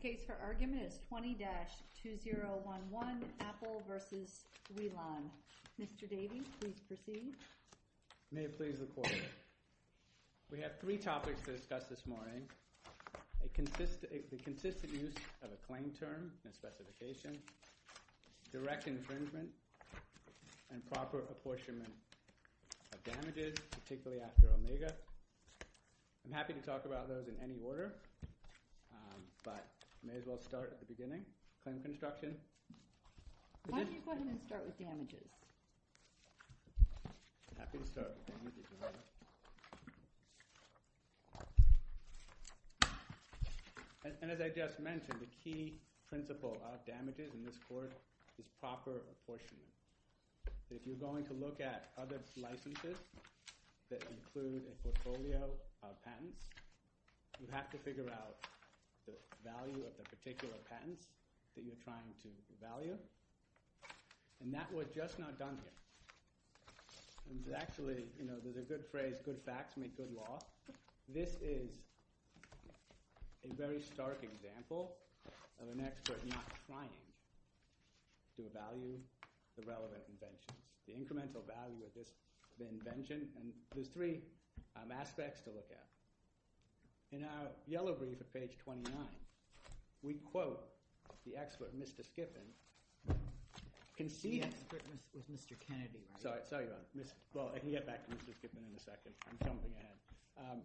The next case for argument is 20-2011, Apple v. Wi-LAN. Mr. Davey, please proceed. May it please the Court. We have three topics to discuss this morning. A consistent use of a claim term and specification, direct infringement, and proper apportionment of damages, particularly after Omega. I'm happy to talk about those in any order. But I may as well start at the beginning. Claim construction. Why don't you go ahead and start with damages? I'm happy to start with damages. And as I just mentioned, the key principle of damages in this Court is proper apportionment. If you're going to look at other licenses that include a portfolio of patents, you have to figure out the value of the particular patents that you're trying to value. And that was just not done here. Actually, there's a good phrase, good facts make good law. This is a very stark example of an expert not trying to value the relevant invention. The incremental value of the invention. There's three aspects to look at. In our yellow brief at page 29, we quote the expert, Mr. Skiffin. The expert is Mr. Kennedy. I can get back to Mr. Skiffin in a second. I'm jumping ahead.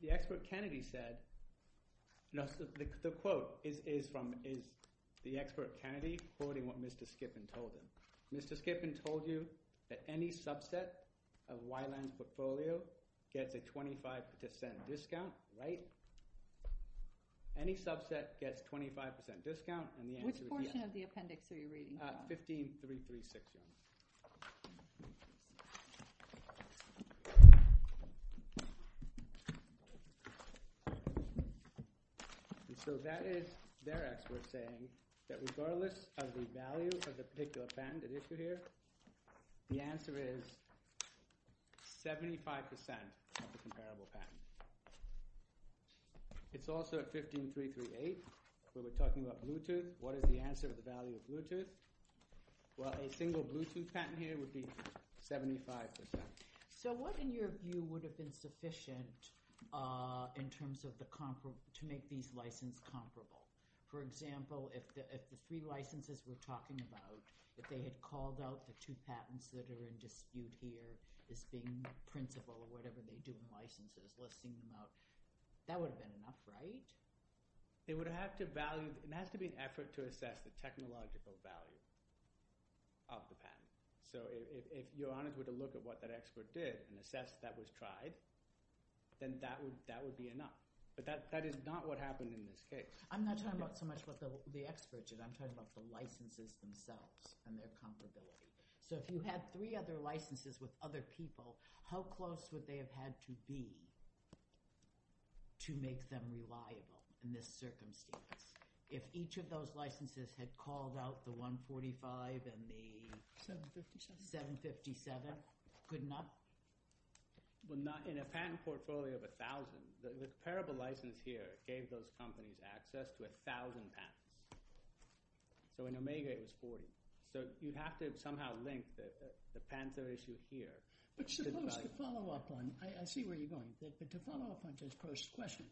The expert Kennedy said – no, the quote is from the expert Kennedy quoting what Mr. Skiffin told him. Mr. Skiffin told you that any subset of Weiland's portfolio gets a 25% discount, right? Any subset gets 25% discount, and the answer is yes. Which portion of the appendix are you reading from? 15336. So that is their expert saying that regardless of the value of the particular patent at issue here, the answer is 75% of the comparable patent. It's also at 15338. So we're talking about Bluetooth. What is the answer to the value of Bluetooth? Well, a single Bluetooth patent here would be 75%. So what, in your view, would have been sufficient in terms of the – to make these licenses comparable? For example, if the three licenses we're talking about, if they had called out the two patents that are in dispute here as being principal or whatever they do in licenses, less than enough, that would have been enough, right? It would have to value – it has to be an effort to assess the technological value of the patent. So if you're honored with a look at what that expert did and assess that was tried, then that would be enough. But that is not what happened in this case. I'm not talking about so much what the expert did. I'm talking about the licenses themselves and their compatibility. So if you had three other licenses with other people, how close would they have had to be to make them reliable in this circumstance? If each of those licenses had called out the 145 and the 757, good enough? In a patent portfolio of 1,000, the comparable license here gave those companies access to 1,000 patents. So in Omega, it was 40. So you have to somehow link the Panther issue here. But suppose – to follow up on – I see where you're going. But to follow up on Joe's first question,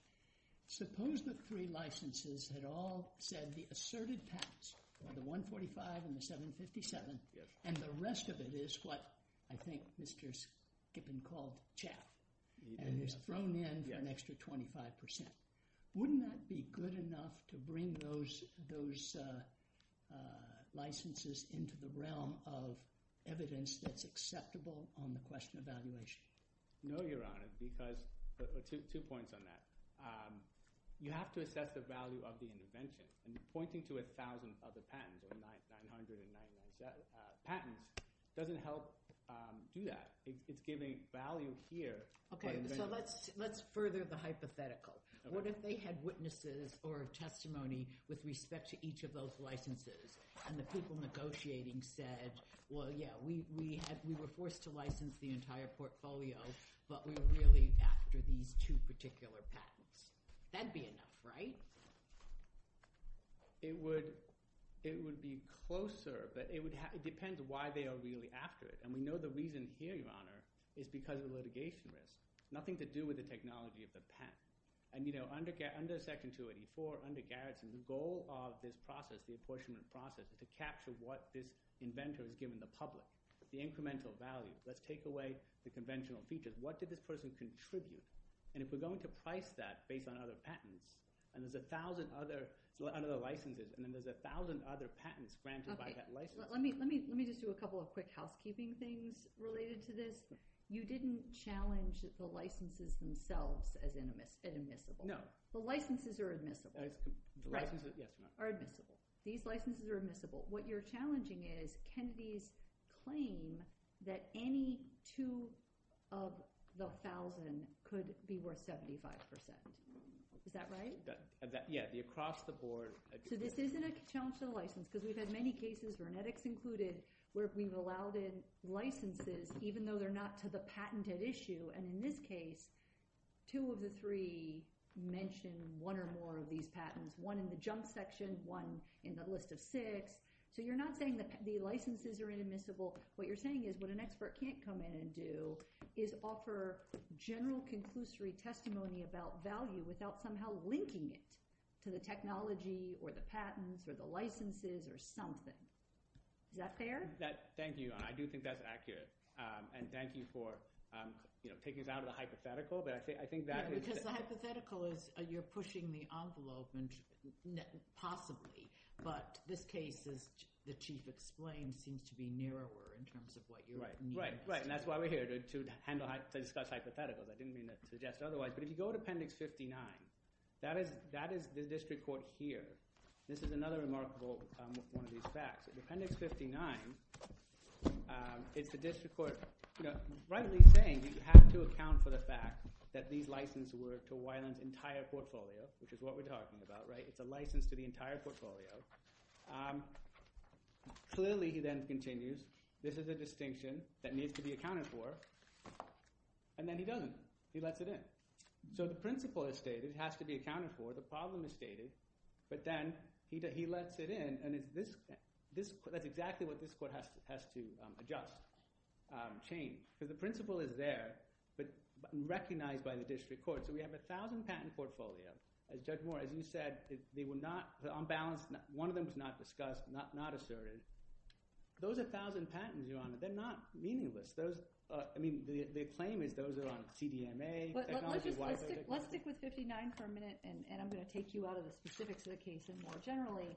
suppose the three licenses had all said the asserted patents, the 145 and the 757, and the rest of it is what I think Mr. Skippin called CHAP, and it's thrown in an extra 25%. Wouldn't that be good enough to bring those licenses into the realm of evidence that's acceptable on the question of evaluation? No, Your Honor, because – two points on that. You have to assess the value of the invention. Pointing to 1,000 other patents, 900 and 997 patents, doesn't help do that. It's giving value here. Okay, so let's further the hypothetical. What if they had witnesses or testimony with respect to each of those licenses, and the people negotiating said, well, yeah, we were forced to license the entire portfolio, but we're really after these two particular patents. That would be enough, right? It would be closer, but it depends why they are really after it. And we know the reason here, Your Honor, is because of litigation risk. Nothing to do with the technology of the patent. Under Section 284, under Garrison, the goal of this process, the apportionment process, is to capture what this inventor has given the public, the incremental value. Let's take away the conventional features. What did this person contribute? And if we're going to price that based on other patents, and there's 1,000 other licenses, and then there's 1,000 other patents granted by that license. Let me just do a couple of quick housekeeping things related to this. You didn't challenge the licenses themselves as admissible. No. The licenses are admissible. The licenses, yes. Right. Are admissible. These licenses are admissible. What you're challenging is can these claim that any two of the 1,000 could be worth 75%. Is that right? Yeah. Across the board. So this isn't a challenge to the license, because we've had many cases, genetics included, where we've allowed in licenses, even though they're not to the patented issue. And in this case, two of the three mentioned one or more of these patents. One in the junk section, one in the list of six. So you're not saying the licenses are inadmissible. What you're saying is what an expert can't come in and do is offer general conclusory testimony about value without somehow linking it to the technology or the patents or the licenses or something. Is that fair? Thank you. I do think that's accurate. And thank you for picking it out of the hypothetical. Because the hypothetical is you're pushing the envelope, possibly. But this case, as the Chief explained, seems to be narrower in terms of what you're doing. Right. And that's why we're here, to discuss hypotheticals. I didn't mean to suggest otherwise. But if you go to Appendix 59, that is the district court here. This is another remarkable one of these facts. In Appendix 59, it's the district court rightly saying you have to account for the fact that these licenses were to Weiland's entire portfolio, which is what we're talking about. It's a license to the entire portfolio. Clearly, he then continues, this is a distinction that needs to be accounted for. And then he doesn't. He lets it in. So the principle is stated. It has to be accounted for. The problem is stated. But then he lets it in. And that's exactly what this court has to adjust, change. Because the principle is there, but recognized by the district court. So we have 1,000 patent portfolios. Judge Moore, as you said, they were not on balance. One of them was not discussed, not asserted. Those 1,000 patents, Your Honor, they're not meaningless. The claim is those are on CDMA, technology-wise. Let's stick with 59 for a minute. And I'm going to take you out of the specifics of the case and more generally.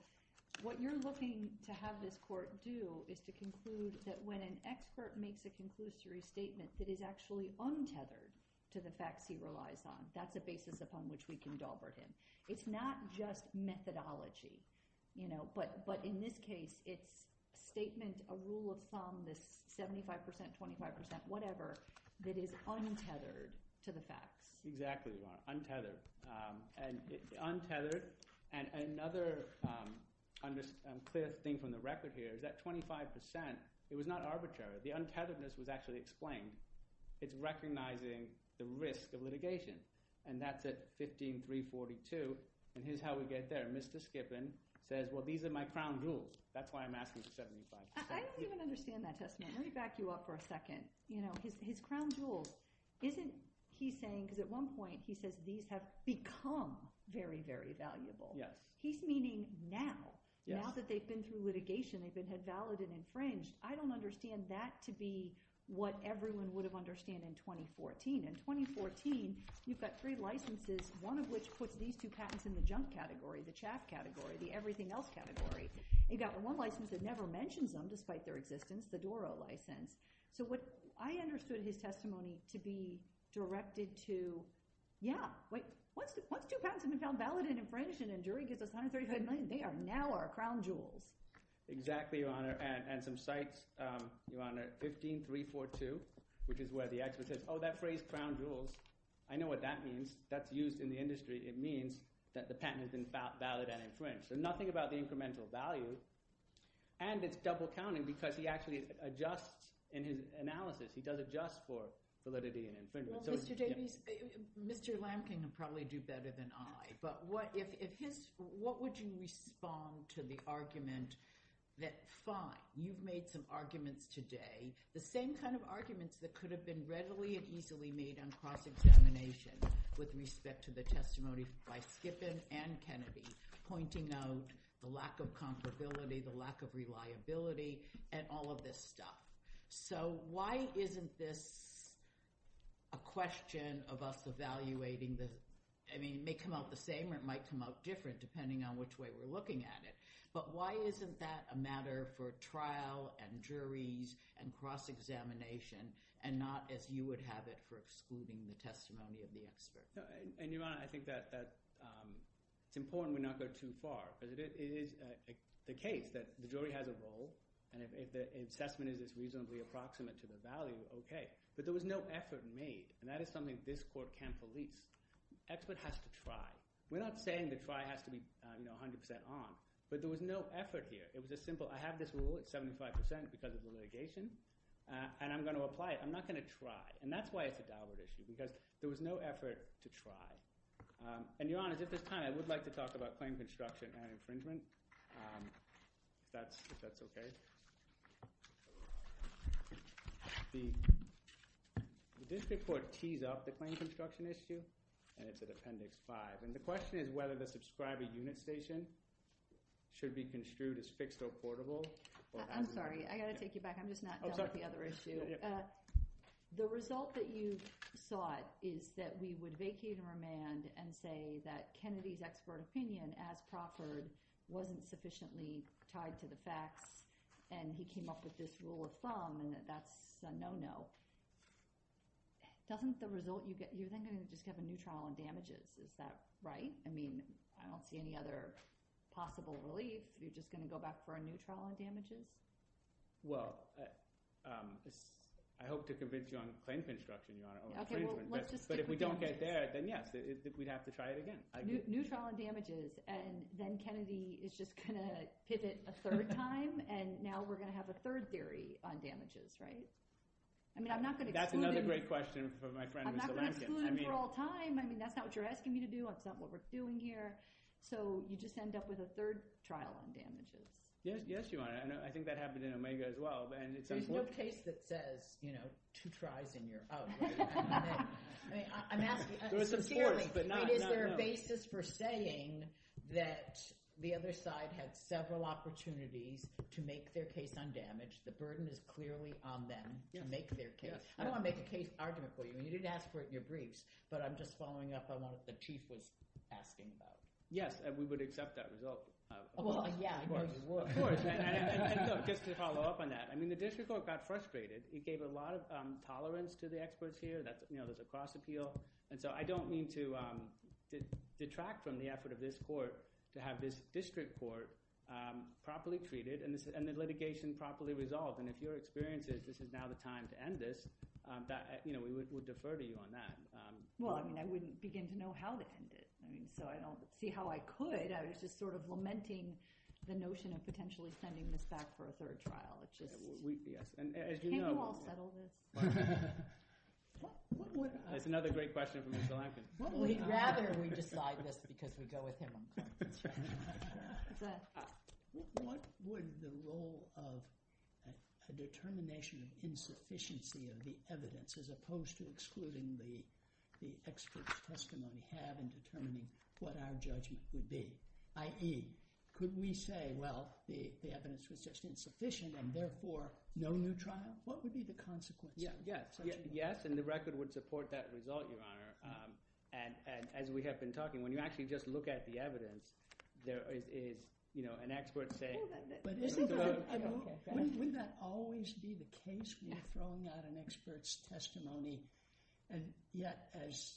What you're looking to have this court do is to conclude that when an expert makes a conclusory statement, it is actually untethered to the facts he relies on. That's a basis upon which we can dauber him. It's not just methodology. But in this case, it's statements, a rule of thumb, this 75%, 25%, whatever, that is untethered to the facts. Exactly, Your Honor. Untethered. And untethered. And another clear thing from the record here is that 25%, it was not arbitrary. The untetheredness was actually explained. It's recognizing the risk of litigation. And that's at 15342. And here's how we get there. Mr. Skippen says, well, these are my crown jewels. That's why I'm asking for 75%. I don't even understand that testimony. Let me back you up for a second. His crown jewels, isn't he saying, because at one point he says these have become very, very valuable. He's meaning now. Now that they've been through litigation, they've been head valid and infringed, I don't understand that to be what everyone would have understood in 2014. In 2014, you've got three licenses, one of which puts these two patents in the junk category, the chaff category, the everything else category. You've got one license that never mentions them despite their existence, the Doro license. So what I understood in his testimony to be directed to, yeah, wait, once two patents have been found valid and infringed and a jury gives us $135 million, they are now our crown jewels. Exactly, Your Honor. And some sites, Your Honor, 15342, which is where the expert says, oh, that phrase crown jewels, I know what that means. That's used in the industry. It means that the patent has been valid and infringed. So nothing about the incremental value. And it's double counting because he actually adjusts in his analysis. He does adjust for validity and infringement. Well, Mr. Davies, Mr. Lampking would probably do better than I. But what if his, what would you respond to the argument that, fine, you've made some arguments today, the same kind of arguments that could have been readily and easily made with respect to the testimony by Skippin and Kennedy pointing out the lack of comparability, the lack of reliability, and all of this stuff. So why isn't this a question of us evaluating the, I mean, it may come out the same or it might come out different depending on which way we're looking at it. But why isn't that a matter for trial and juries and cross-examination and not as you would have it for excluding the testimony of the expert? And, Your Honor, I think that it's important we not go too far. Because it is the case that the jury has a role. And if the assessment is reasonably approximate to the value, okay. But there was no effort made. And that is something this court can't police. The expert has to try. We're not saying the try has to be 100% on. But there was no effort here. It was a simple, I have this rule at 75% because of the litigation. And I'm going to apply it. I'm not going to try. And that's why it's a dial-up issue. Because there was no effort to try. And, Your Honor, at this time, I would like to talk about claim construction and infringement. If that's okay. The district court tees up the claim construction issue. And it's at Appendix 5. And the question is whether the subscriber unit station should be construed as fixed or portable. I'm sorry. I've got to take you back. I'm just not done with the other issue. The result that you sought is that we would vacate and remand and say that Kennedy's expert opinion, as proffered, wasn't sufficiently tied to the facts. And he came up with this rule of thumb. And that's a no-no. Doesn't the result – you're not going to just have a new trial on damages. Is that right? I mean, I don't see any other possible relief. You're just going to go back for a new trial on damages? Well, I hope to convince you on claim construction, Your Honor, or infringement. But if we don't get there, then, yes, we'd have to try it again. New trial on damages. And then Kennedy is just going to hit it a third time. And now we're going to have a third theory on damages, right? I mean, I'm not going to exclude him. That's another great question for my friend, Mr. Lemkin. I'm not going to exclude him for all time. I mean, that's not what you're asking me to do. That's not what we're doing here. So you just end up with a third trial on damages. Yes, Your Honor. I think that happened in Omega as well. There's no case that says, you know, two tries and you're out. I'm asking sincerely, is there a basis for saying that the other side had several opportunities to make their case on damage? The burden is clearly on them to make their case. I don't want to make a case argument for you. You did ask for it in your briefs, but I'm just following up on what the chief was asking about. Yes, and we would accept that result. Well, yeah, I know you would. Of course, and just to follow up on that. I mean, the district court got frustrated. It gave a lot of tolerance to the experts here. You know, there's a cross appeal. And so I don't mean to detract from the effort of this court to have this district court properly treated and the litigation properly resolved. And if your experience is this is now the time to end this, we would defer to you on that. Well, I mean, I wouldn't begin to know how to end it. So I don't see how I could. I was just sort of lamenting the notion of potentially sending this back for a third trial. Can you all settle this? That's another great question for Mr. Lampkin. We'd rather we decide this because we go with him. What would the role of the determination of insufficiency of the evidence, as opposed to excluding the expert's testimony, have in determining what our judgment would be? I.e., could we say, well, the evidence was just insufficient and therefore no new trial? What would be the consequences? Yes, and the record would support that result, Your Honor. And as we have been talking, when you actually just look at the evidence, there is, you know, an expert saying. Wouldn't that always be the case? We're throwing out an expert's testimony. And yet, as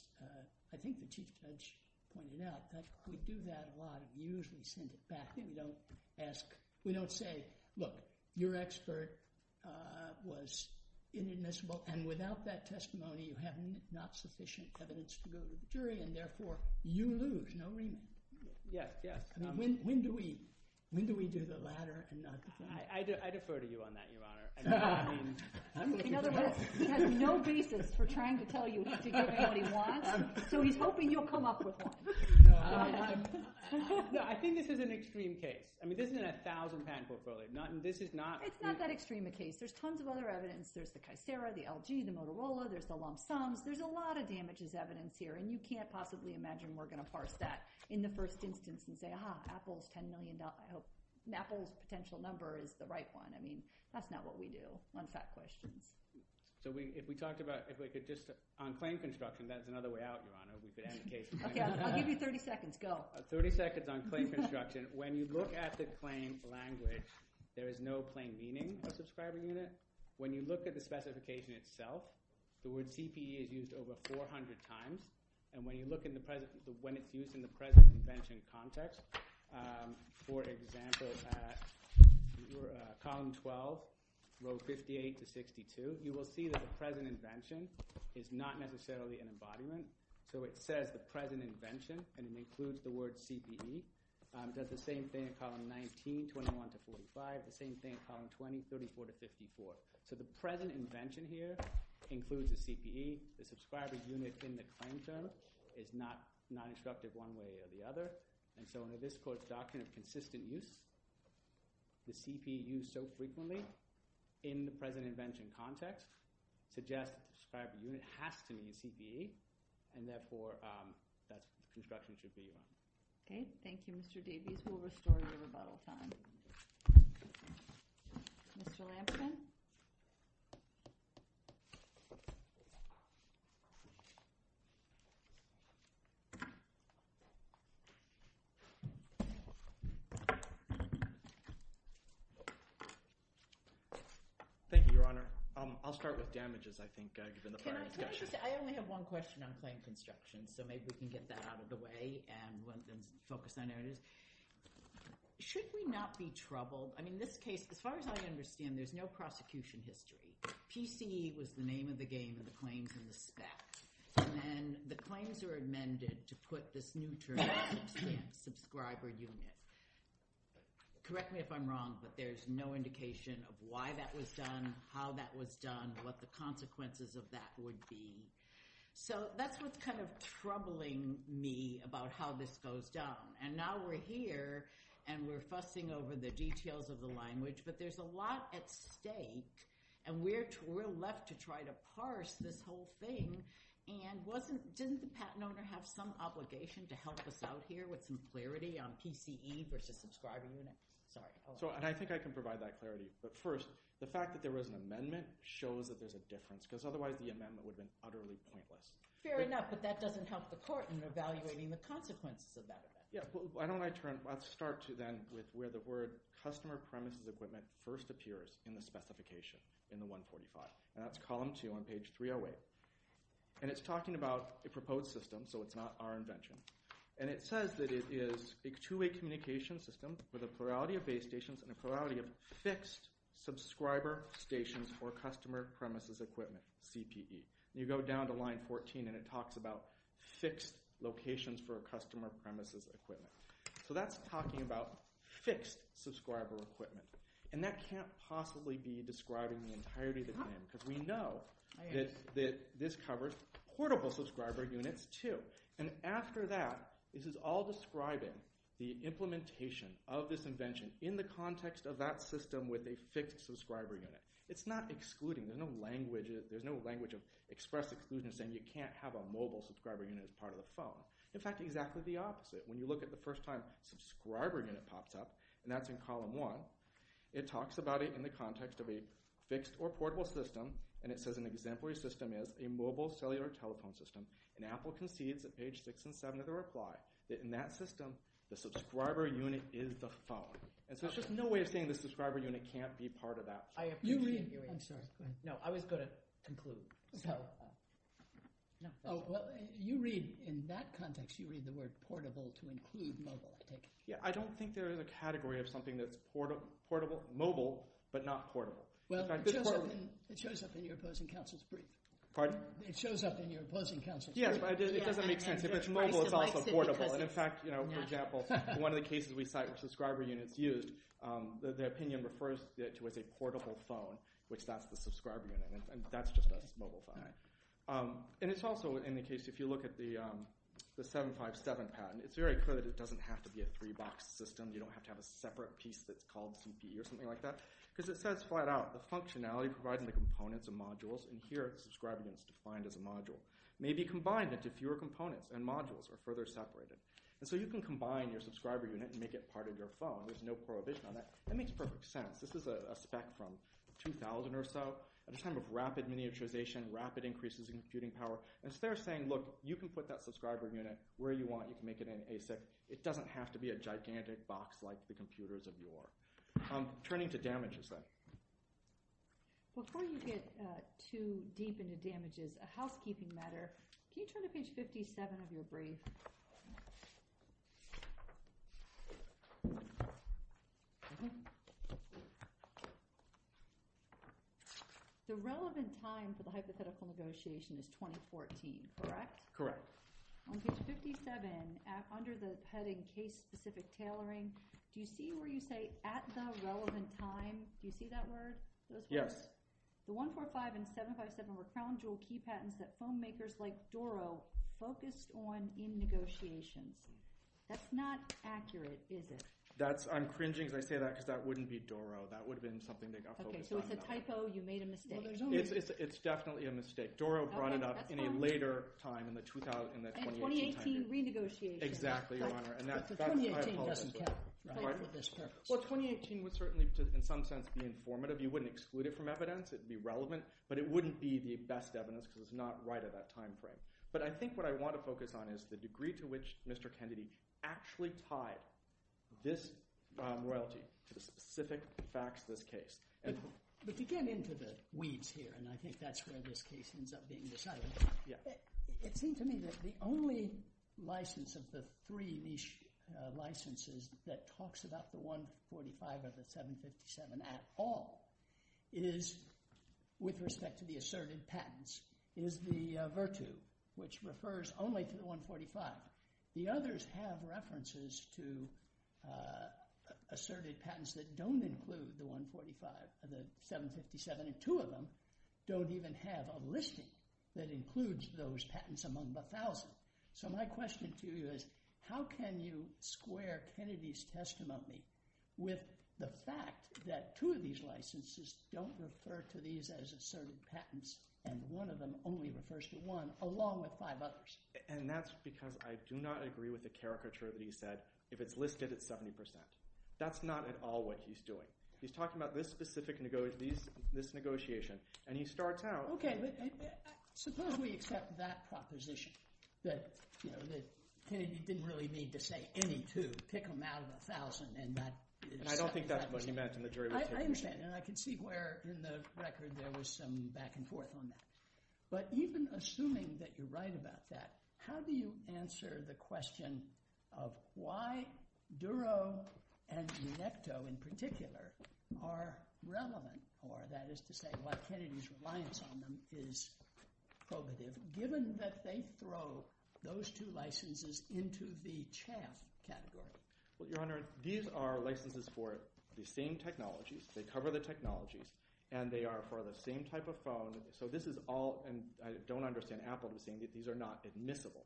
I think the Chief Judge pointed out, we do that a lot. We usually send it back and don't ask. We don't say, look, your expert was inadmissible, and without that testimony, you have not sufficient evidence to go to the jury, and therefore you lose. No remand. Yes, yes. When do we do the latter and not the former? I defer to you on that, Your Honor. In other words, he has no basis for trying to tell you to give him what he wants, so he's hoping you'll come up with one. No, I think this is an extreme case. I mean, this is in a 1,000 patent portfolio. This is not— It's not that extreme a case. There's tons of other evidence. There's the CICERA, the LG, the Motorola. There's the long sums. There's a lot of damages evidence here, and you can't possibly imagine we're going to parse that in the first instance and say, ah, Apple's $10 million. I hope Apple's potential number is the right one. I mean, that's not what we do on fact questions. So if we talked about—if we could just—on claim construction, that's another way out, Your Honor. We could end the case. Okay, I'll give you 30 seconds. Go. 30 seconds on claim construction. When you look at the claim language, there is no plain meaning of subscriber unit. When you look at the specification itself, the word CPE is used over 400 times. And when you look in the present—when it's used in the present invention context, for example, at column 12, row 58 to 62, you will see that the present invention is not necessarily an embodiment. So it says the present invention, and it includes the word CPE. It does the same thing at column 19, 21 to 45, the same thing at column 20, 34 to 54. So the present invention here includes the CPE. The subscriber unit in the claim term is not instructed one way or the other. And so under this court's doctrine of consistent use, the CPE used so frequently in the present invention context suggests subscriber unit has to be CPE. And therefore, that construction should be— Okay. Thank you, Mr. Davies. We'll restore your rebuttal time. Mr. Lampkin? Thank you, Your Honor. I'll start with damages, I think, given the prior discussion. I only have one question on claim construction, so maybe we can get that out of the way and focus on areas. Should we not be troubled? I mean this case, as far as I understand, there's no prosecution history. PCE was the name of the game in the claims in the spec. And then the claims are amended to put this new term, subscriber unit. Correct me if I'm wrong, but there's no indication of why that was done, how that was done, what the consequences of that would be. So that's what's kind of troubling me about how this goes down. And now we're here, and we're fussing over the details of the language, but there's a lot at stake. And we're left to try to parse this whole thing. And didn't the patent owner have some obligation to help us out here with some clarity on PCE versus subscriber unit? Sorry. And I think I can provide that clarity. But first, the fact that there was an amendment shows that there's a difference, because otherwise the amendment would have been utterly pointless. Fair enough, but that doesn't help the court in evaluating the consequences of that amendment. Why don't I turn – let's start, then, with where the word customer premises equipment first appears in the specification in the 145. And that's column 2 on page 308. And it's talking about a proposed system, so it's not our invention. And it says that it is a two-way communication system with a plurality of base stations and a plurality of fixed subscriber stations for customer premises equipment, CPE. You go down to line 14 and it talks about fixed locations for customer premises equipment. So that's talking about fixed subscriber equipment. And that can't possibly be describing the entirety of the claim because we know that this covers portable subscriber units too. And after that, this is all describing the implementation of this invention in the context of that system with a fixed subscriber unit. It's not excluding. There's no language of express exclusion saying you can't have a mobile subscriber unit as part of the phone. In fact, exactly the opposite. When you look at the first time subscriber unit pops up, and that's in column 1, it talks about it in the context of a fixed or portable system. And it says an exemplary system is a mobile cellular telephone system. And Apple concedes at page 6 and 7 of the reply that in that system the subscriber unit is the phone. And so there's just no way of saying the subscriber unit can't be part of that. You read – I'm sorry. No, I was going to conclude. Oh, well, you read – in that context you read the word portable to include mobile. Yeah, I don't think there is a category of something that's portable – mobile but not portable. Well, it shows up in your opposing counsel's brief. Pardon? It shows up in your opposing counsel's brief. Yes, but it doesn't make sense. If it's mobile, it's also portable. And, in fact, for example, one of the cases we cite where subscriber unit is used, the opinion refers to it as a portable phone, which that's the subscriber unit. And that's just a mobile phone. And it's also in the case – if you look at the 757 patent, it's very clear that it doesn't have to be a three-box system. You don't have to have a separate piece that's called CD or something like that because it says flat out, the functionality provided in the components and modules – and here subscriber unit is defined as a module – may be combined into fewer components, and modules are further separated. And so you can combine your subscriber unit and make it part of your phone. There's no prohibition on that. That makes perfect sense. This is a spec from 2000 or so. At the time of rapid miniaturization, rapid increases in computing power. And so they're saying, look, you can put that subscriber unit where you want. You can make it an ASIC. It doesn't have to be a gigantic box like the computers of yore. Turning to damages, then. Before you get too deep into damages, a housekeeping matter. Can you turn to page 57, if you'll breathe? The relevant time for the hypothetical negotiation is 2014, correct? Correct. On page 57, under the heading case-specific tailoring, do you see where you say at the relevant time? Do you see that word? Yes. The 145 and 757 were crown jewel key patents that phone makers like Doro focused on in negotiations. That's not accurate, is it? I'm cringing as I say that because that wouldn't be Doro. That would have been something they got focused on. Okay, so it's a typo. You made a mistake. It's definitely a mistake. Doro brought it up in a later time, in the 2018 time period. In the 2018 renegotiation. Exactly, Your Honor. But the 2018 doesn't count. Well, 2018 would certainly, in some sense, be informative. You wouldn't exclude it from evidence. It would be relevant, but it wouldn't be the best evidence because it's not right at that time frame. But I think what I want to focus on is the degree to which Mr. Kennedy actually tied this royalty to the specific facts of this case. But to get into the weeds here, and I think that's where this case ends up being decided, it seems to me that the only license of the three niche licenses that talks about the 145 or the 757 at all is, with respect to the asserted patents, is the Virtu, which refers only to the 145. The others have references to asserted patents that don't include the 145 or the 757, and two of them don't even have a listing that includes those patents among the thousands. So my question to you is, how can you square Kennedy's testimony with the fact that two of these licenses don't refer to these as asserted patents and one of them only refers to one along with five others? And that's because I do not agree with the caricature that he said, if it's listed, it's 70%. That's not at all what he's doing. He's talking about this specific negotiation, and he starts out— Okay, suppose we accept that proposition, that Kennedy didn't really need to say any two. Pick them out of a thousand, and that— And I don't think that's what he meant in the jury procedure. I understand, and I can see where in the record there was some back and forth on that. But even assuming that you're right about that, how do you answer the question of why Duro and Necto in particular are relevant, or that is to say, why Kennedy's reliance on them is probative, given that they throw those two licenses into the CHAMP category? Well, Your Honor, these are licenses for the same technologies. They cover the technologies, and they are for the same type of phone. So this is all—and I don't understand Apple saying that these are not admissible.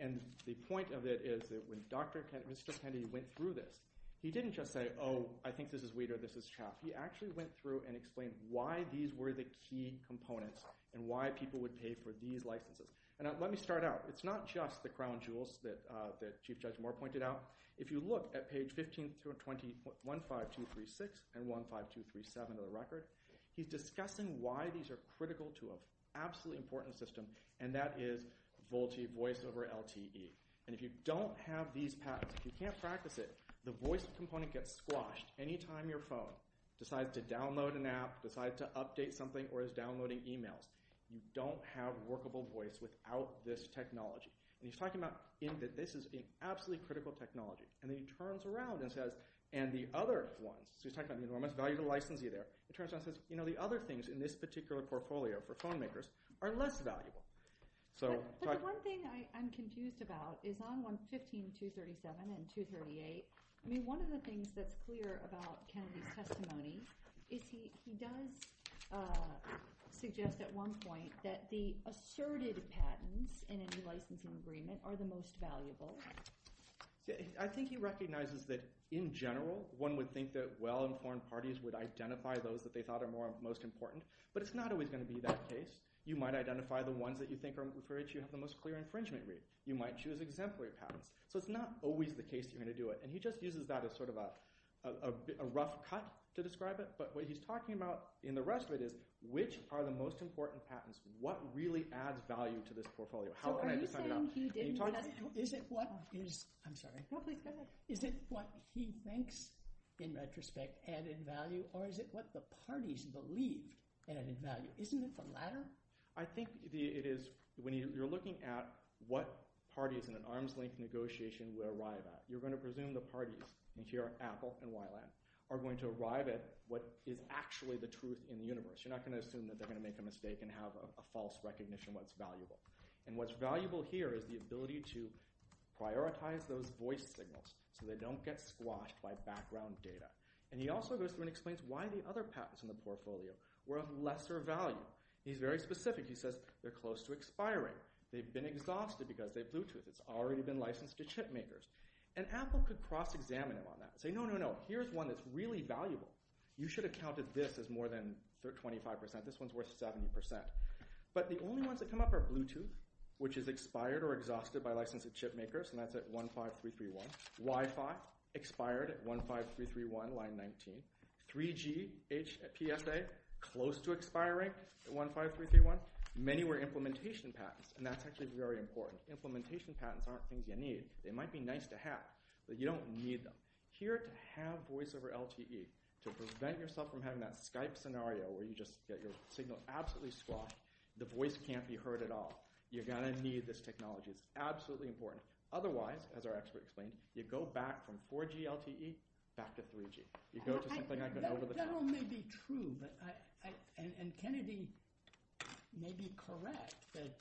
And the point of it is that when Mr. Kennedy went through this, he didn't just say, oh, I think this is Weider, this is CHAMP. He actually went through and explained why these were the key components and why people would pay for these licenses. And let me start out. It's not just the crown jewels that Chief Judge Moore pointed out. If you look at page 1520.15236 and 15237 of the record, he's discussing why these are critical to an absolutely important system, and that is VoLTE, voice over LTE. And if you don't have these patents, if you can't practice it, the voice component gets squashed. Anytime your phone decides to download an app, decides to update something, or is downloading emails, you don't have workable voice without this technology. And he's talking about this as being absolutely critical technology. And then he turns around and says, and the other ones—he's talking about the enormous value of the licensee there. He turns around and says, you know, the other things in this particular portfolio for phone makers are less valuable. So— But the one thing I'm confused about is on 115237 and 238, I mean one of the things that's clear about Kennedy's testimony is he does suggest at one point that the asserted patents in any licensing agreement are the most valuable. I think he recognizes that in general, one would think that well-informed parties would identify those that they thought are most important. But it's not always going to be that case. You might identify the ones that you think are—for which you have the most clear infringement rate. You might choose exemplary patents. So it's not always the case that you're going to do it. And he just uses that as sort of a rough cut to describe it. But what he's talking about in the rest of it is which are the most important patents? What really adds value to this portfolio? How can I decide that? So are you saying he didn't— Is it what is—I'm sorry. Go ahead. Is it what he thinks, in retrospect, added value? Or is it what the parties believe added value? Isn't it the latter? I think it is when you're looking at what parties in an arms-length negotiation you are wired at. You're going to presume the parties, and here are Apple and YLAN, are going to arrive at what is actually the truth in the universe. You're not going to assume that they're going to make a mistake and have a false recognition of what's valuable. And what's valuable here is the ability to prioritize those voice signals so they don't get squashed by background data. And he also goes through and explains why the other patents in the portfolio were of lesser value. He's very specific. He says they're close to expiring. They've been exhausted because they have Bluetooth. It's already been licensed to chip makers. And Apple could cross-examine him on that and say, no, no, no, here's one that's really valuable. You should have counted this as more than 25%. This one's worth 70%. But the only ones that come up are Bluetooth, which is expired or exhausted by license of chip makers, and that's at 15331. Wi-Fi, expired at 15331, line 19. 3G, HPSA, close to expiring at 15331. Many were implementation patents, and that's actually very important. Implementation patents aren't things you need. They might be nice to have, but you don't need them. Here to have voice over LTE to prevent yourself from having that Skype scenario where you just get your signal absolutely squashed, the voice can't be heard at all, you're going to need this technology. It's absolutely important. Otherwise, as our experts claim, you go back from 4G LTE back to 3G. You go to something like an over-the-top. That all may be true, and Kennedy may be correct that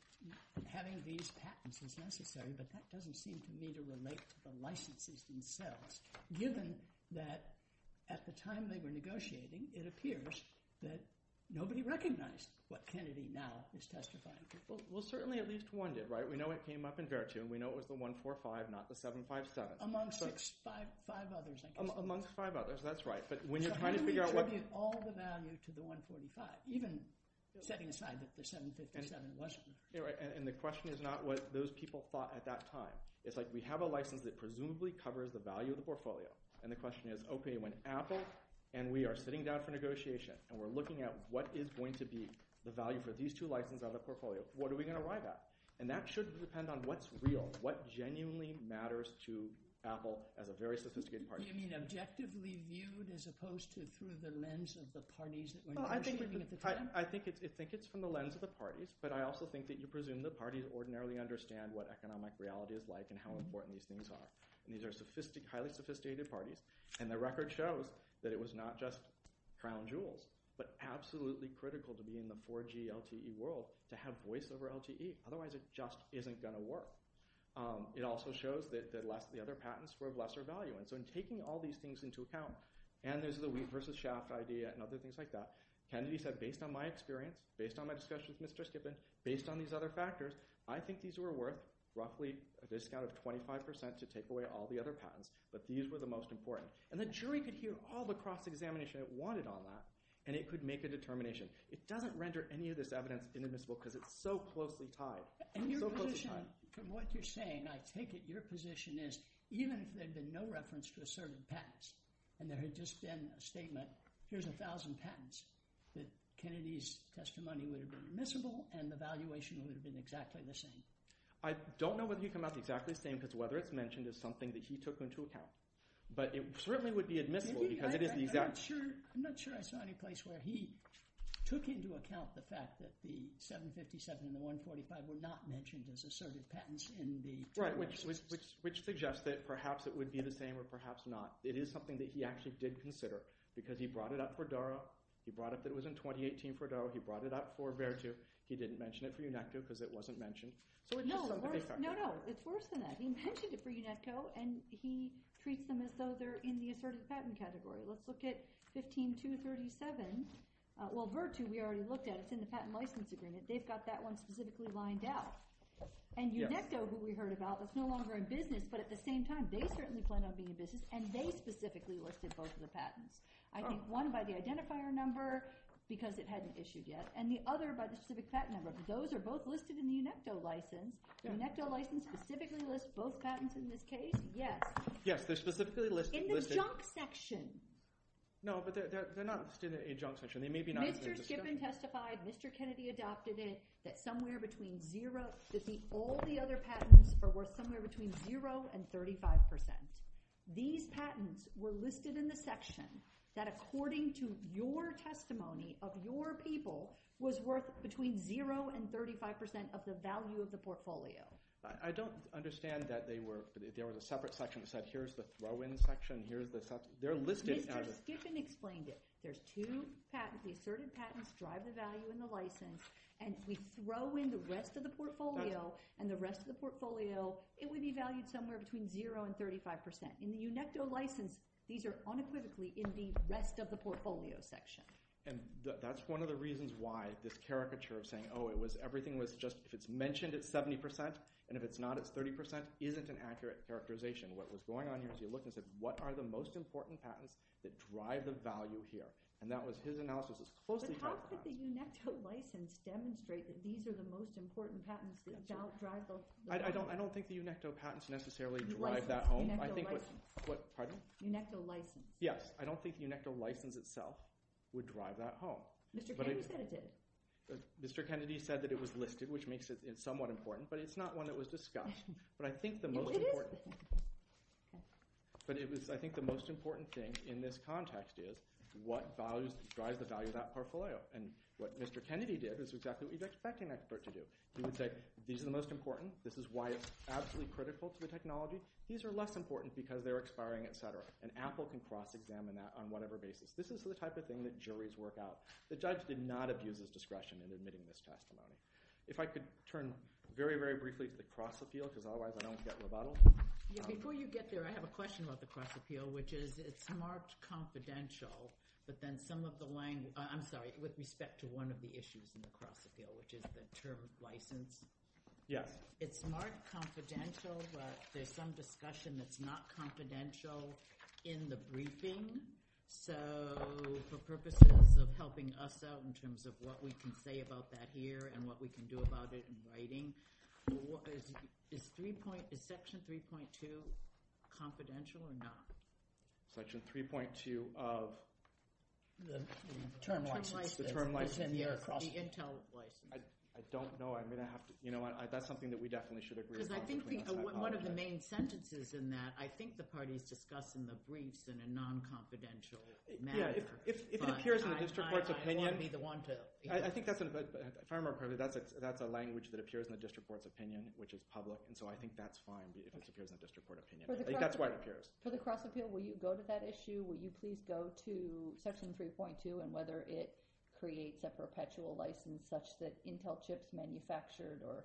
having these patents is necessary, but that doesn't seem to me to relate to the licenses themselves, given that at the time they were negotiating, it appears that nobody recognized what Kennedy now is testifying to. Well, certainly at least one did, right? We know it came up in Vertu, and we know it was the 145, not the 757. Amongst five others, I guess. Amongst five others, that's right. So how do we attribute all the value to the 145, even setting aside that the 757 wasn't? And the question is not what those people thought at that time. It's like we have a license that presumably covers the value of the portfolio, and the question is, okay, when Apple and we are sitting down for negotiation and we're looking at what is going to be the value for these two licenses on the portfolio, what are we going to arrive at? And that should depend on what's real, what genuinely matters to Apple as a very sophisticated party. So you mean objectively viewed as opposed to through the lens of the parties? I think it's from the lens of the parties, but I also think that you presume the parties ordinarily understand what economic reality is like and how important these things are. These are highly sophisticated parties, and the record shows that it was not just crown jewels, but absolutely critical to be in the 4G LTE world to have voice over LTE. Otherwise, it just isn't going to work. It also shows that the other patents were of lesser value, and so in taking all these things into account, and there's the wheat versus shaft idea and other things like that, Kennedy said based on my experience, based on my discussions with Mr. Skippin, based on these other factors, I think these were worth roughly a discount of 25% to take away all the other patents, but these were the most important. And the jury could hear all the cross-examination it wanted on that, and it could make a determination. It doesn't render any of this evidence inadmissible because it's so closely tied. And your position, from what you're saying, I take it your position is even if there had been no reference to a certain patent, and there had just been a statement, here's 1,000 patents, that Kennedy's testimony would have been admissible and the valuation would have been exactly the same. I don't know whether he'd come out exactly the same because whether it's mentioned is something that he took into account, but it certainly would be admissible because it is the exact – I'm not sure I saw any place where he took into account the fact that the 757 and the 145 were not mentioned as assertive patents in the – Right, which suggests that perhaps it would be the same or perhaps not. It is something that he actually did consider because he brought it up for Durow. He brought it up that it was in 2018 for Durow. He brought it up for Vertu. He didn't mention it for UNESCO because it wasn't mentioned. No, no, it's worse than that. He mentioned it for UNESCO, and he treats them as though they're in the assertive patent category. Let's look at 15237. Well, Vertu we already looked at. It's in the Patent License Agreement. They've got that one specifically lined out. UNECTO, who we heard about, is no longer in business, but at the same time they certainly plan on being in business, and they specifically listed both of the patents. I think one by the identifier number because it hadn't issued yet and the other by the specific patent number. Those are both listed in the UNECTO license. The UNECTO license specifically lists both patents in this case. Yes. Yes, they're specifically listed. In the junk section. No, but they're not listed in the junk section. They may be not in the junk section. Mr. Skiffin testified, Mr. Kennedy adopted it, that somewhere between zero – that all the other patents are worth somewhere between zero and 35%. These patents were listed in the section that, according to your testimony of your people, was worth between zero and 35% of the value of the portfolio. I don't understand that they were – there was a separate section that said here's the throw-in section, here's the – they're listed. Mr. Skiffin explained it. There's two patents – the asserted patents drive the value in the license and we throw in the rest of the portfolio and the rest of the portfolio, it would be valued somewhere between zero and 35%. In the UNECTO license, these are unequivocally in the rest of the portfolio section. And that's one of the reasons why this caricature of saying, oh, it was – everything was just – if it's mentioned, it's 70% and if it's not, it's 30% isn't an accurate characterization. What was going on here as you look and said, what are the most important patents that drive the value here? And that was his analysis as closely as I could. But how could the UNECTO license demonstrate that these are the most important patents that drive the value? I don't think the UNECTO patents necessarily drive that home. UNECTO license. Pardon? UNECTO license. I don't think the UNECTO license itself would drive that home. Mr. Kennedy said it did. Mr. Kennedy said that it was listed, which makes it somewhat important, but it's not one that was discussed. But I think the most important thing in this context is what drives the value of that portfolio. And what Mr. Kennedy did is exactly what you'd expect an expert to do. He would say, these are the most important. This is why it's absolutely critical to the technology. These are less important because they're expiring, et cetera. And Apple can cross-examine that on whatever basis. This is the type of thing that juries work out. The judge did not abuse his discretion in admitting this testimony. If I could turn very, very briefly to the cross-appeal because otherwise I don't get rebuttal. Before you get there, I have a question about the cross-appeal, which is it's marked confidential, but then some of the language – I'm sorry, with respect to one of the issues in the cross-appeal, which is the term license. Yes. It's marked confidential, but there's some discussion that's not confidential in the briefing. So for purposes of helping us out in terms of what we can say about that here and what we can do about it in writing, is Section 3.2 confidential or not? Section 3.2 of? The term license. The term license, yes. The Intel license. I don't know. I'm going to have to – you know what? That's something that we definitely should agree upon. Because I think one of the main sentences in that, I think the party is discussing the briefs in a non-confidential manner. If it appears in the district court's opinion – I want to be the one to – I think that's – if I remember correctly, that's a language that appears in the district court's opinion, which is public, and so I think that's fine if it appears in the district court's opinion. That's why it appears. For the cross-appeal, will you go to that issue? Will you please go to Section 3.2 and whether it creates a perpetual license such that Intel chips manufactured or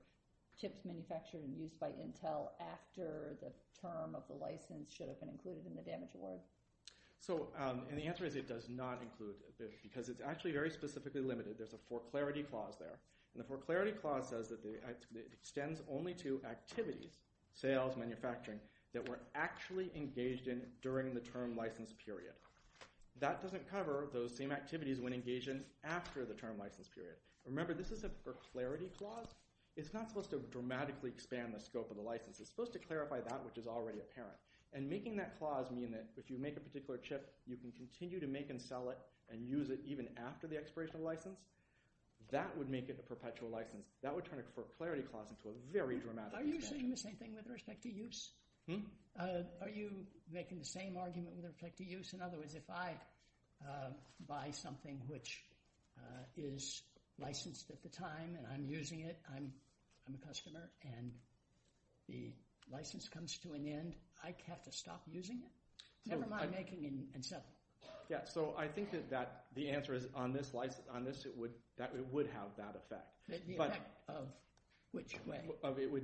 chips manufactured and used by Intel after the term of the license should have been included in the damage award? So – and the answer is it does not include it because it's actually very specifically limited. There's a for clarity clause there. And the for clarity clause says that it extends only to activities – sales, manufacturing – that were actually engaged in during the term license period. That doesn't cover those same activities when engaged in after the term license period. Remember, this is a for clarity clause. It's not supposed to dramatically expand the scope of the license. It's supposed to clarify that which is already apparent. And making that clause mean that if you make a particular chip, you can continue to make and sell it and use it even after the expiration of the license, that would make it the perpetual license. That would turn a for clarity clause into a very dramatic expansion. Are you saying the same thing with respect to use? Hmm? Are you making the same argument with respect to use? In other words, if I buy something which is licensed at the time and I'm using it, I'm the customer, and the license comes to an end, would I have to stop using it? Never mind making and selling. Yeah, so I think that the answer is on this, it would have that effect. The effect of which way?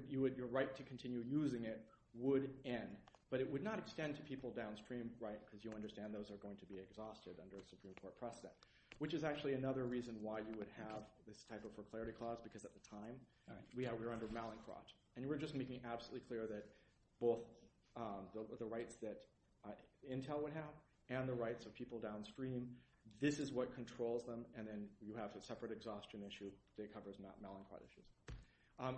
Your right to continue using it would end. But it would not extend to people downstream, right, because you understand those are going to be exhausted under a Supreme Court precedent, which is actually another reason why you would have this type of for clarity clause because at the time, we were under Malincroft. And we're just making absolutely clear that both the rights that Intel would have and the rights of people downstream, this is what controls them, and then you have a separate exhaustion issue that covers Malincroft issue.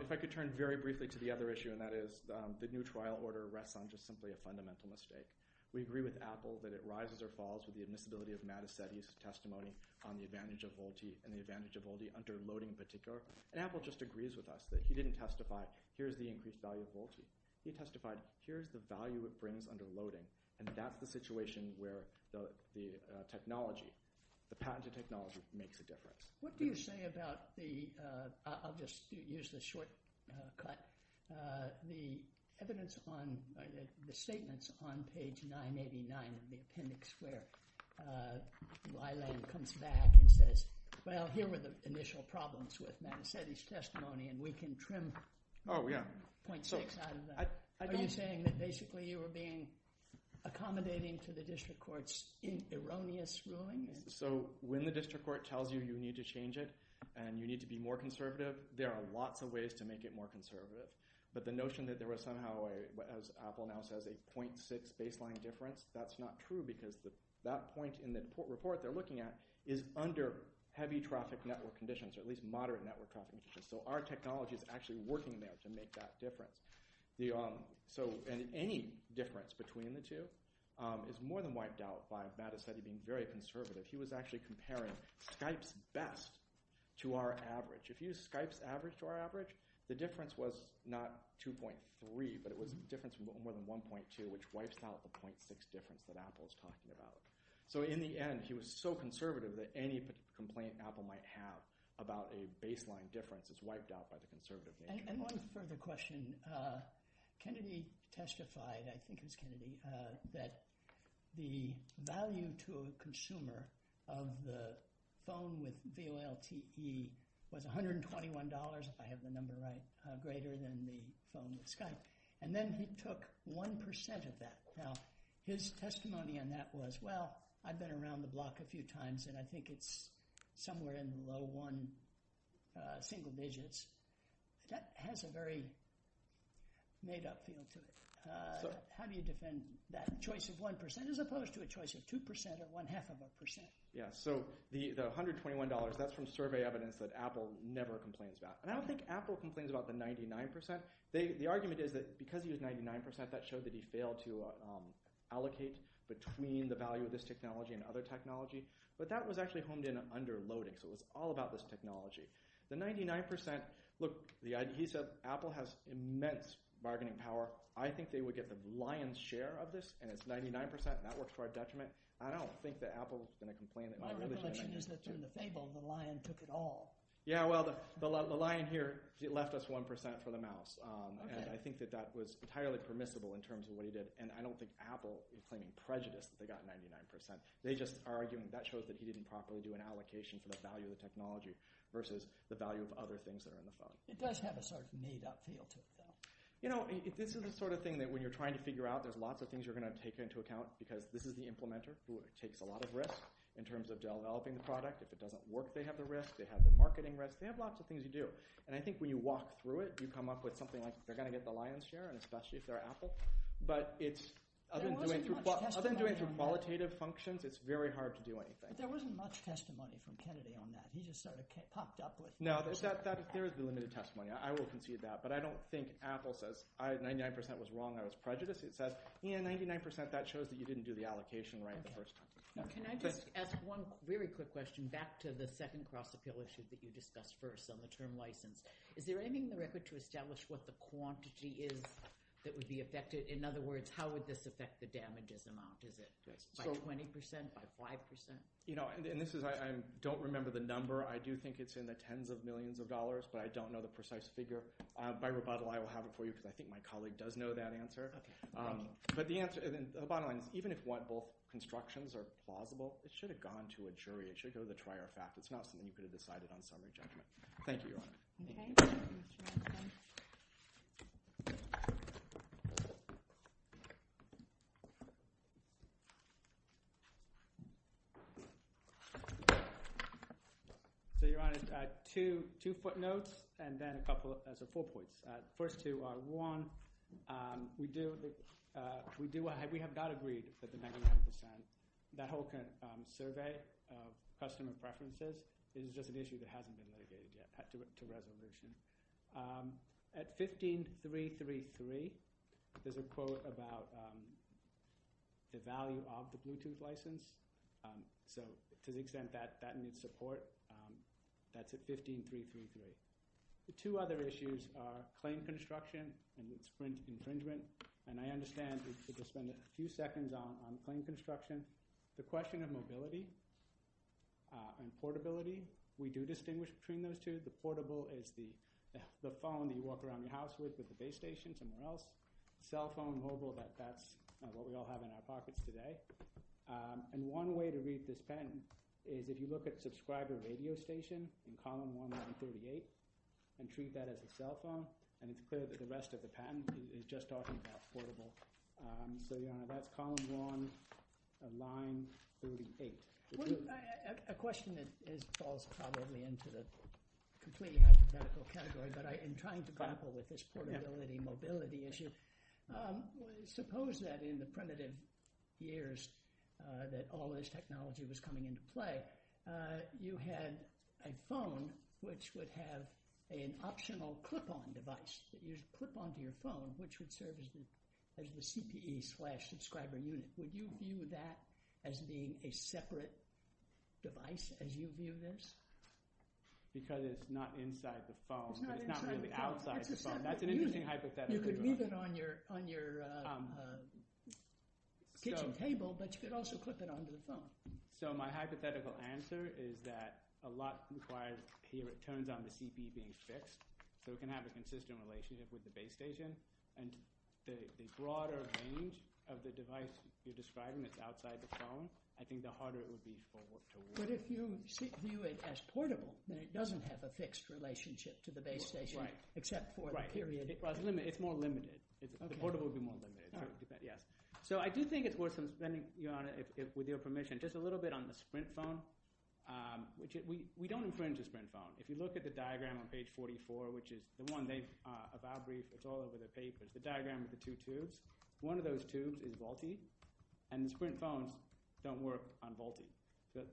If I could turn very briefly to the other issue, and that is the new trial order rests on just simply a fundamental mistake. We agree with Apple that it rises or falls with the admissibility of Matt Assetti's testimony on the advantage of VoLTE and the advantage of VoLTE under loading in particular. And Apple just agrees with us that he didn't testify, here's the increased value of VoLTE. He testified, here's the value it brings under loading, and that's the situation where the technology, the patented technology makes a difference. What do you say about the, I'll just use this shortcut, the evidence on, the statements on page 989 in the appendix where Weiland comes back and says, well, here were the initial problems with Matt Assetti's testimony and we can trim 0.6 out of that. Are you saying that basically you were accommodating to the district court's erroneous ruling? So when the district court tells you you need to change it and you need to be more conservative, there are lots of ways to make it more conservative. But the notion that there was somehow, as Apple now says, a 0.6 baseline difference, that's not true because that point in the report they're looking at is under heavy traffic network conditions or at least moderate network conditions. So our technology is actually working there to make that difference. So any difference between the two is more than wiped out by Matt Assetti being very conservative. He was actually comparing Skype's best to our average. If you use Skype's average to our average, the difference was not 2.3, but it was a difference of more than 1.2, which wipes out the 0.6 difference that Apple is talking about. So in the end, he was so conservative that any complaint Apple might have about a baseline difference is wiped out by the conservative nature. And one further question. Kennedy testified, I think it was Kennedy, that the value to a consumer of the phone with VoLTE was $121, if I have the number right, greater than the phone with Skype. And then he took 1% of that. Now, his testimony on that was, well, I've been around the block a few times, and I think it's somewhere in the low one single digits. That has a very made-up feel to it. How do you defend that choice of 1% as opposed to a choice of 2% or one-half of a percent? Yeah, so the $121, that's from survey evidence that Apple never complains about. And I don't think Apple complains about the 99%. The argument is that because he was 99%, that showed that he failed to allocate between the value of this technology and other technology. But that was actually honed in on underloading, so it was all about this technology. The 99%... Look, he said Apple has immense bargaining power. I think they would get the lion's share of this, and it's 99%, and that works to our detriment. I don't think that Apple is going to complain... My recollection is that during the fable, the lion took it all. Yeah, well, the lion here left us 1% for the mouse. And I think that that was entirely permissible in terms of what he did. And I don't think Apple is claiming prejudice that they got 99%. They just are arguing that shows that he didn't properly do an allocation for the value of the technology versus the value of other things that are in the phone. It does have a sort of made-up feel to it, though. You know, this is the sort of thing that when you're trying to figure out, there's lots of things you're going to take into account because this is the implementer who takes a lot of risk in terms of developing the product. If it doesn't work, they have the risk. They have the marketing risk. They have lots of things to do. And I think when you walk through it, you come up with something like, they're going to get the lion's share, and especially if they're Apple. But other than doing it through qualitative functions, it's very hard to do anything. But there wasn't much testimony from Kennedy on that. He just sort of popped up with... No, there is the limited testimony. I will concede that. But I don't think Apple says, 99% was wrong, I was prejudiced. It says, yeah, 99%, that shows that you didn't do the allocation right the first time. Can I just ask one very quick question and back to the second cross-appeal issue that you discussed first on the term license. Is there anything in the record to establish what the quantity is that would be affected? In other words, how would this affect the damages amount? Is it by 20%, by 5%? You know, and this is... I don't remember the number. I do think it's in the tens of millions of dollars, but I don't know the precise figure. By rebuttal, I will have it for you because I think my colleague does know that answer. But the answer, the bottom line is, even if what both constructions are plausible, it should have gone to a jury. It should go to the trier of fact. It's not something you could have decided on solely by judgment. Thank you, Your Honor. Okay. So, Your Honor, two footnotes and then a couple... so, four points. First two are, one, we have not agreed that the 99%, that whole kind of survey of customer preferences, is just an issue that hasn't been related to resolution. At 15333, there's a quote about the value of the Bluetooth license. So, to the extent that that needs support, that's at 15333. The two other issues are claim construction and its infringement. And I understand we could just spend a few seconds on claim construction. The question of mobility and portability, we do distinguish between those two. The portable is the phone you walk around the house with at the base station or somewhere else. The cell phone, mobile, that's what we all have in our pockets today. And one way to read this patent is, if you look at subscriber radio station in Column 1-138 and treat that as a cell phone, it's clear that the rest of the patent is just talking about portable. So, that's Column 1, Line 38. A question that falls probably into the completely hypothetical category, but I am trying to grapple with this portability, mobility issue. Suppose that in the primitive years that all this technology was coming into play, you had a phone which would have an optional clip-on device that you'd clip onto your phone, which would serve as the CPE slash subscriber unit. Would you view that as being a separate device as you view this? Because it's not inside the phone, but it's not really outside the phone. That's an interesting hypothetical. You could leave it on your kitchen table, but you could also clip it onto the phone. So, my hypothetical answer is that a lot requires, here it turns on the CPE being fixed, so it can have a consistent relationship with the base station. The broader range of the device you're describing that's outside the phone, I think the harder it would be for it to work. But if you view it as portable, then it doesn't have a fixed relationship to the base station except for the period. It's more limited. The portable would be more limited. So, I do think it's worth, with your permission, just a little bit on the Sprint phone. We don't infringe the Sprint phone. If you look at the diagram on page 44, which is the one they have out briefed, it's all over their papers. The diagram with the two tubes, one of those tubes is Vault-E, and the Sprint phones don't work on Vault-E.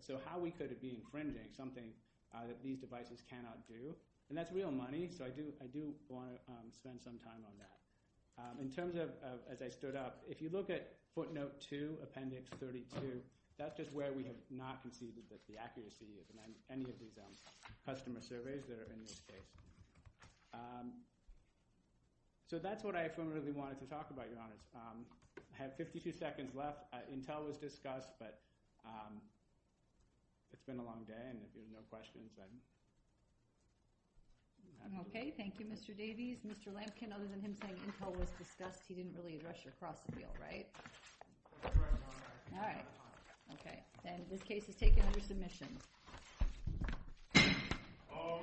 So, how we could be infringing something that these devices cannot do, and that's real money, so I do want to spend some time on that. In terms of as I stood up, if you look at footnote 2, appendix 32, that's just where we have not conceded that the accuracy of any of these customer surveys that are in this case. So, that's what I really wanted to talk about, Your Honor. I have 52 seconds left. Intel was discussed, but it's been a long day and there's been no questions. I'm okay. Thank you, Mr. Davies. Mr. Lampkin, other than him saying Intel was discussed, he didn't really address your cross-appeal, right? All right. Okay, then this case is taken under submission. All rise.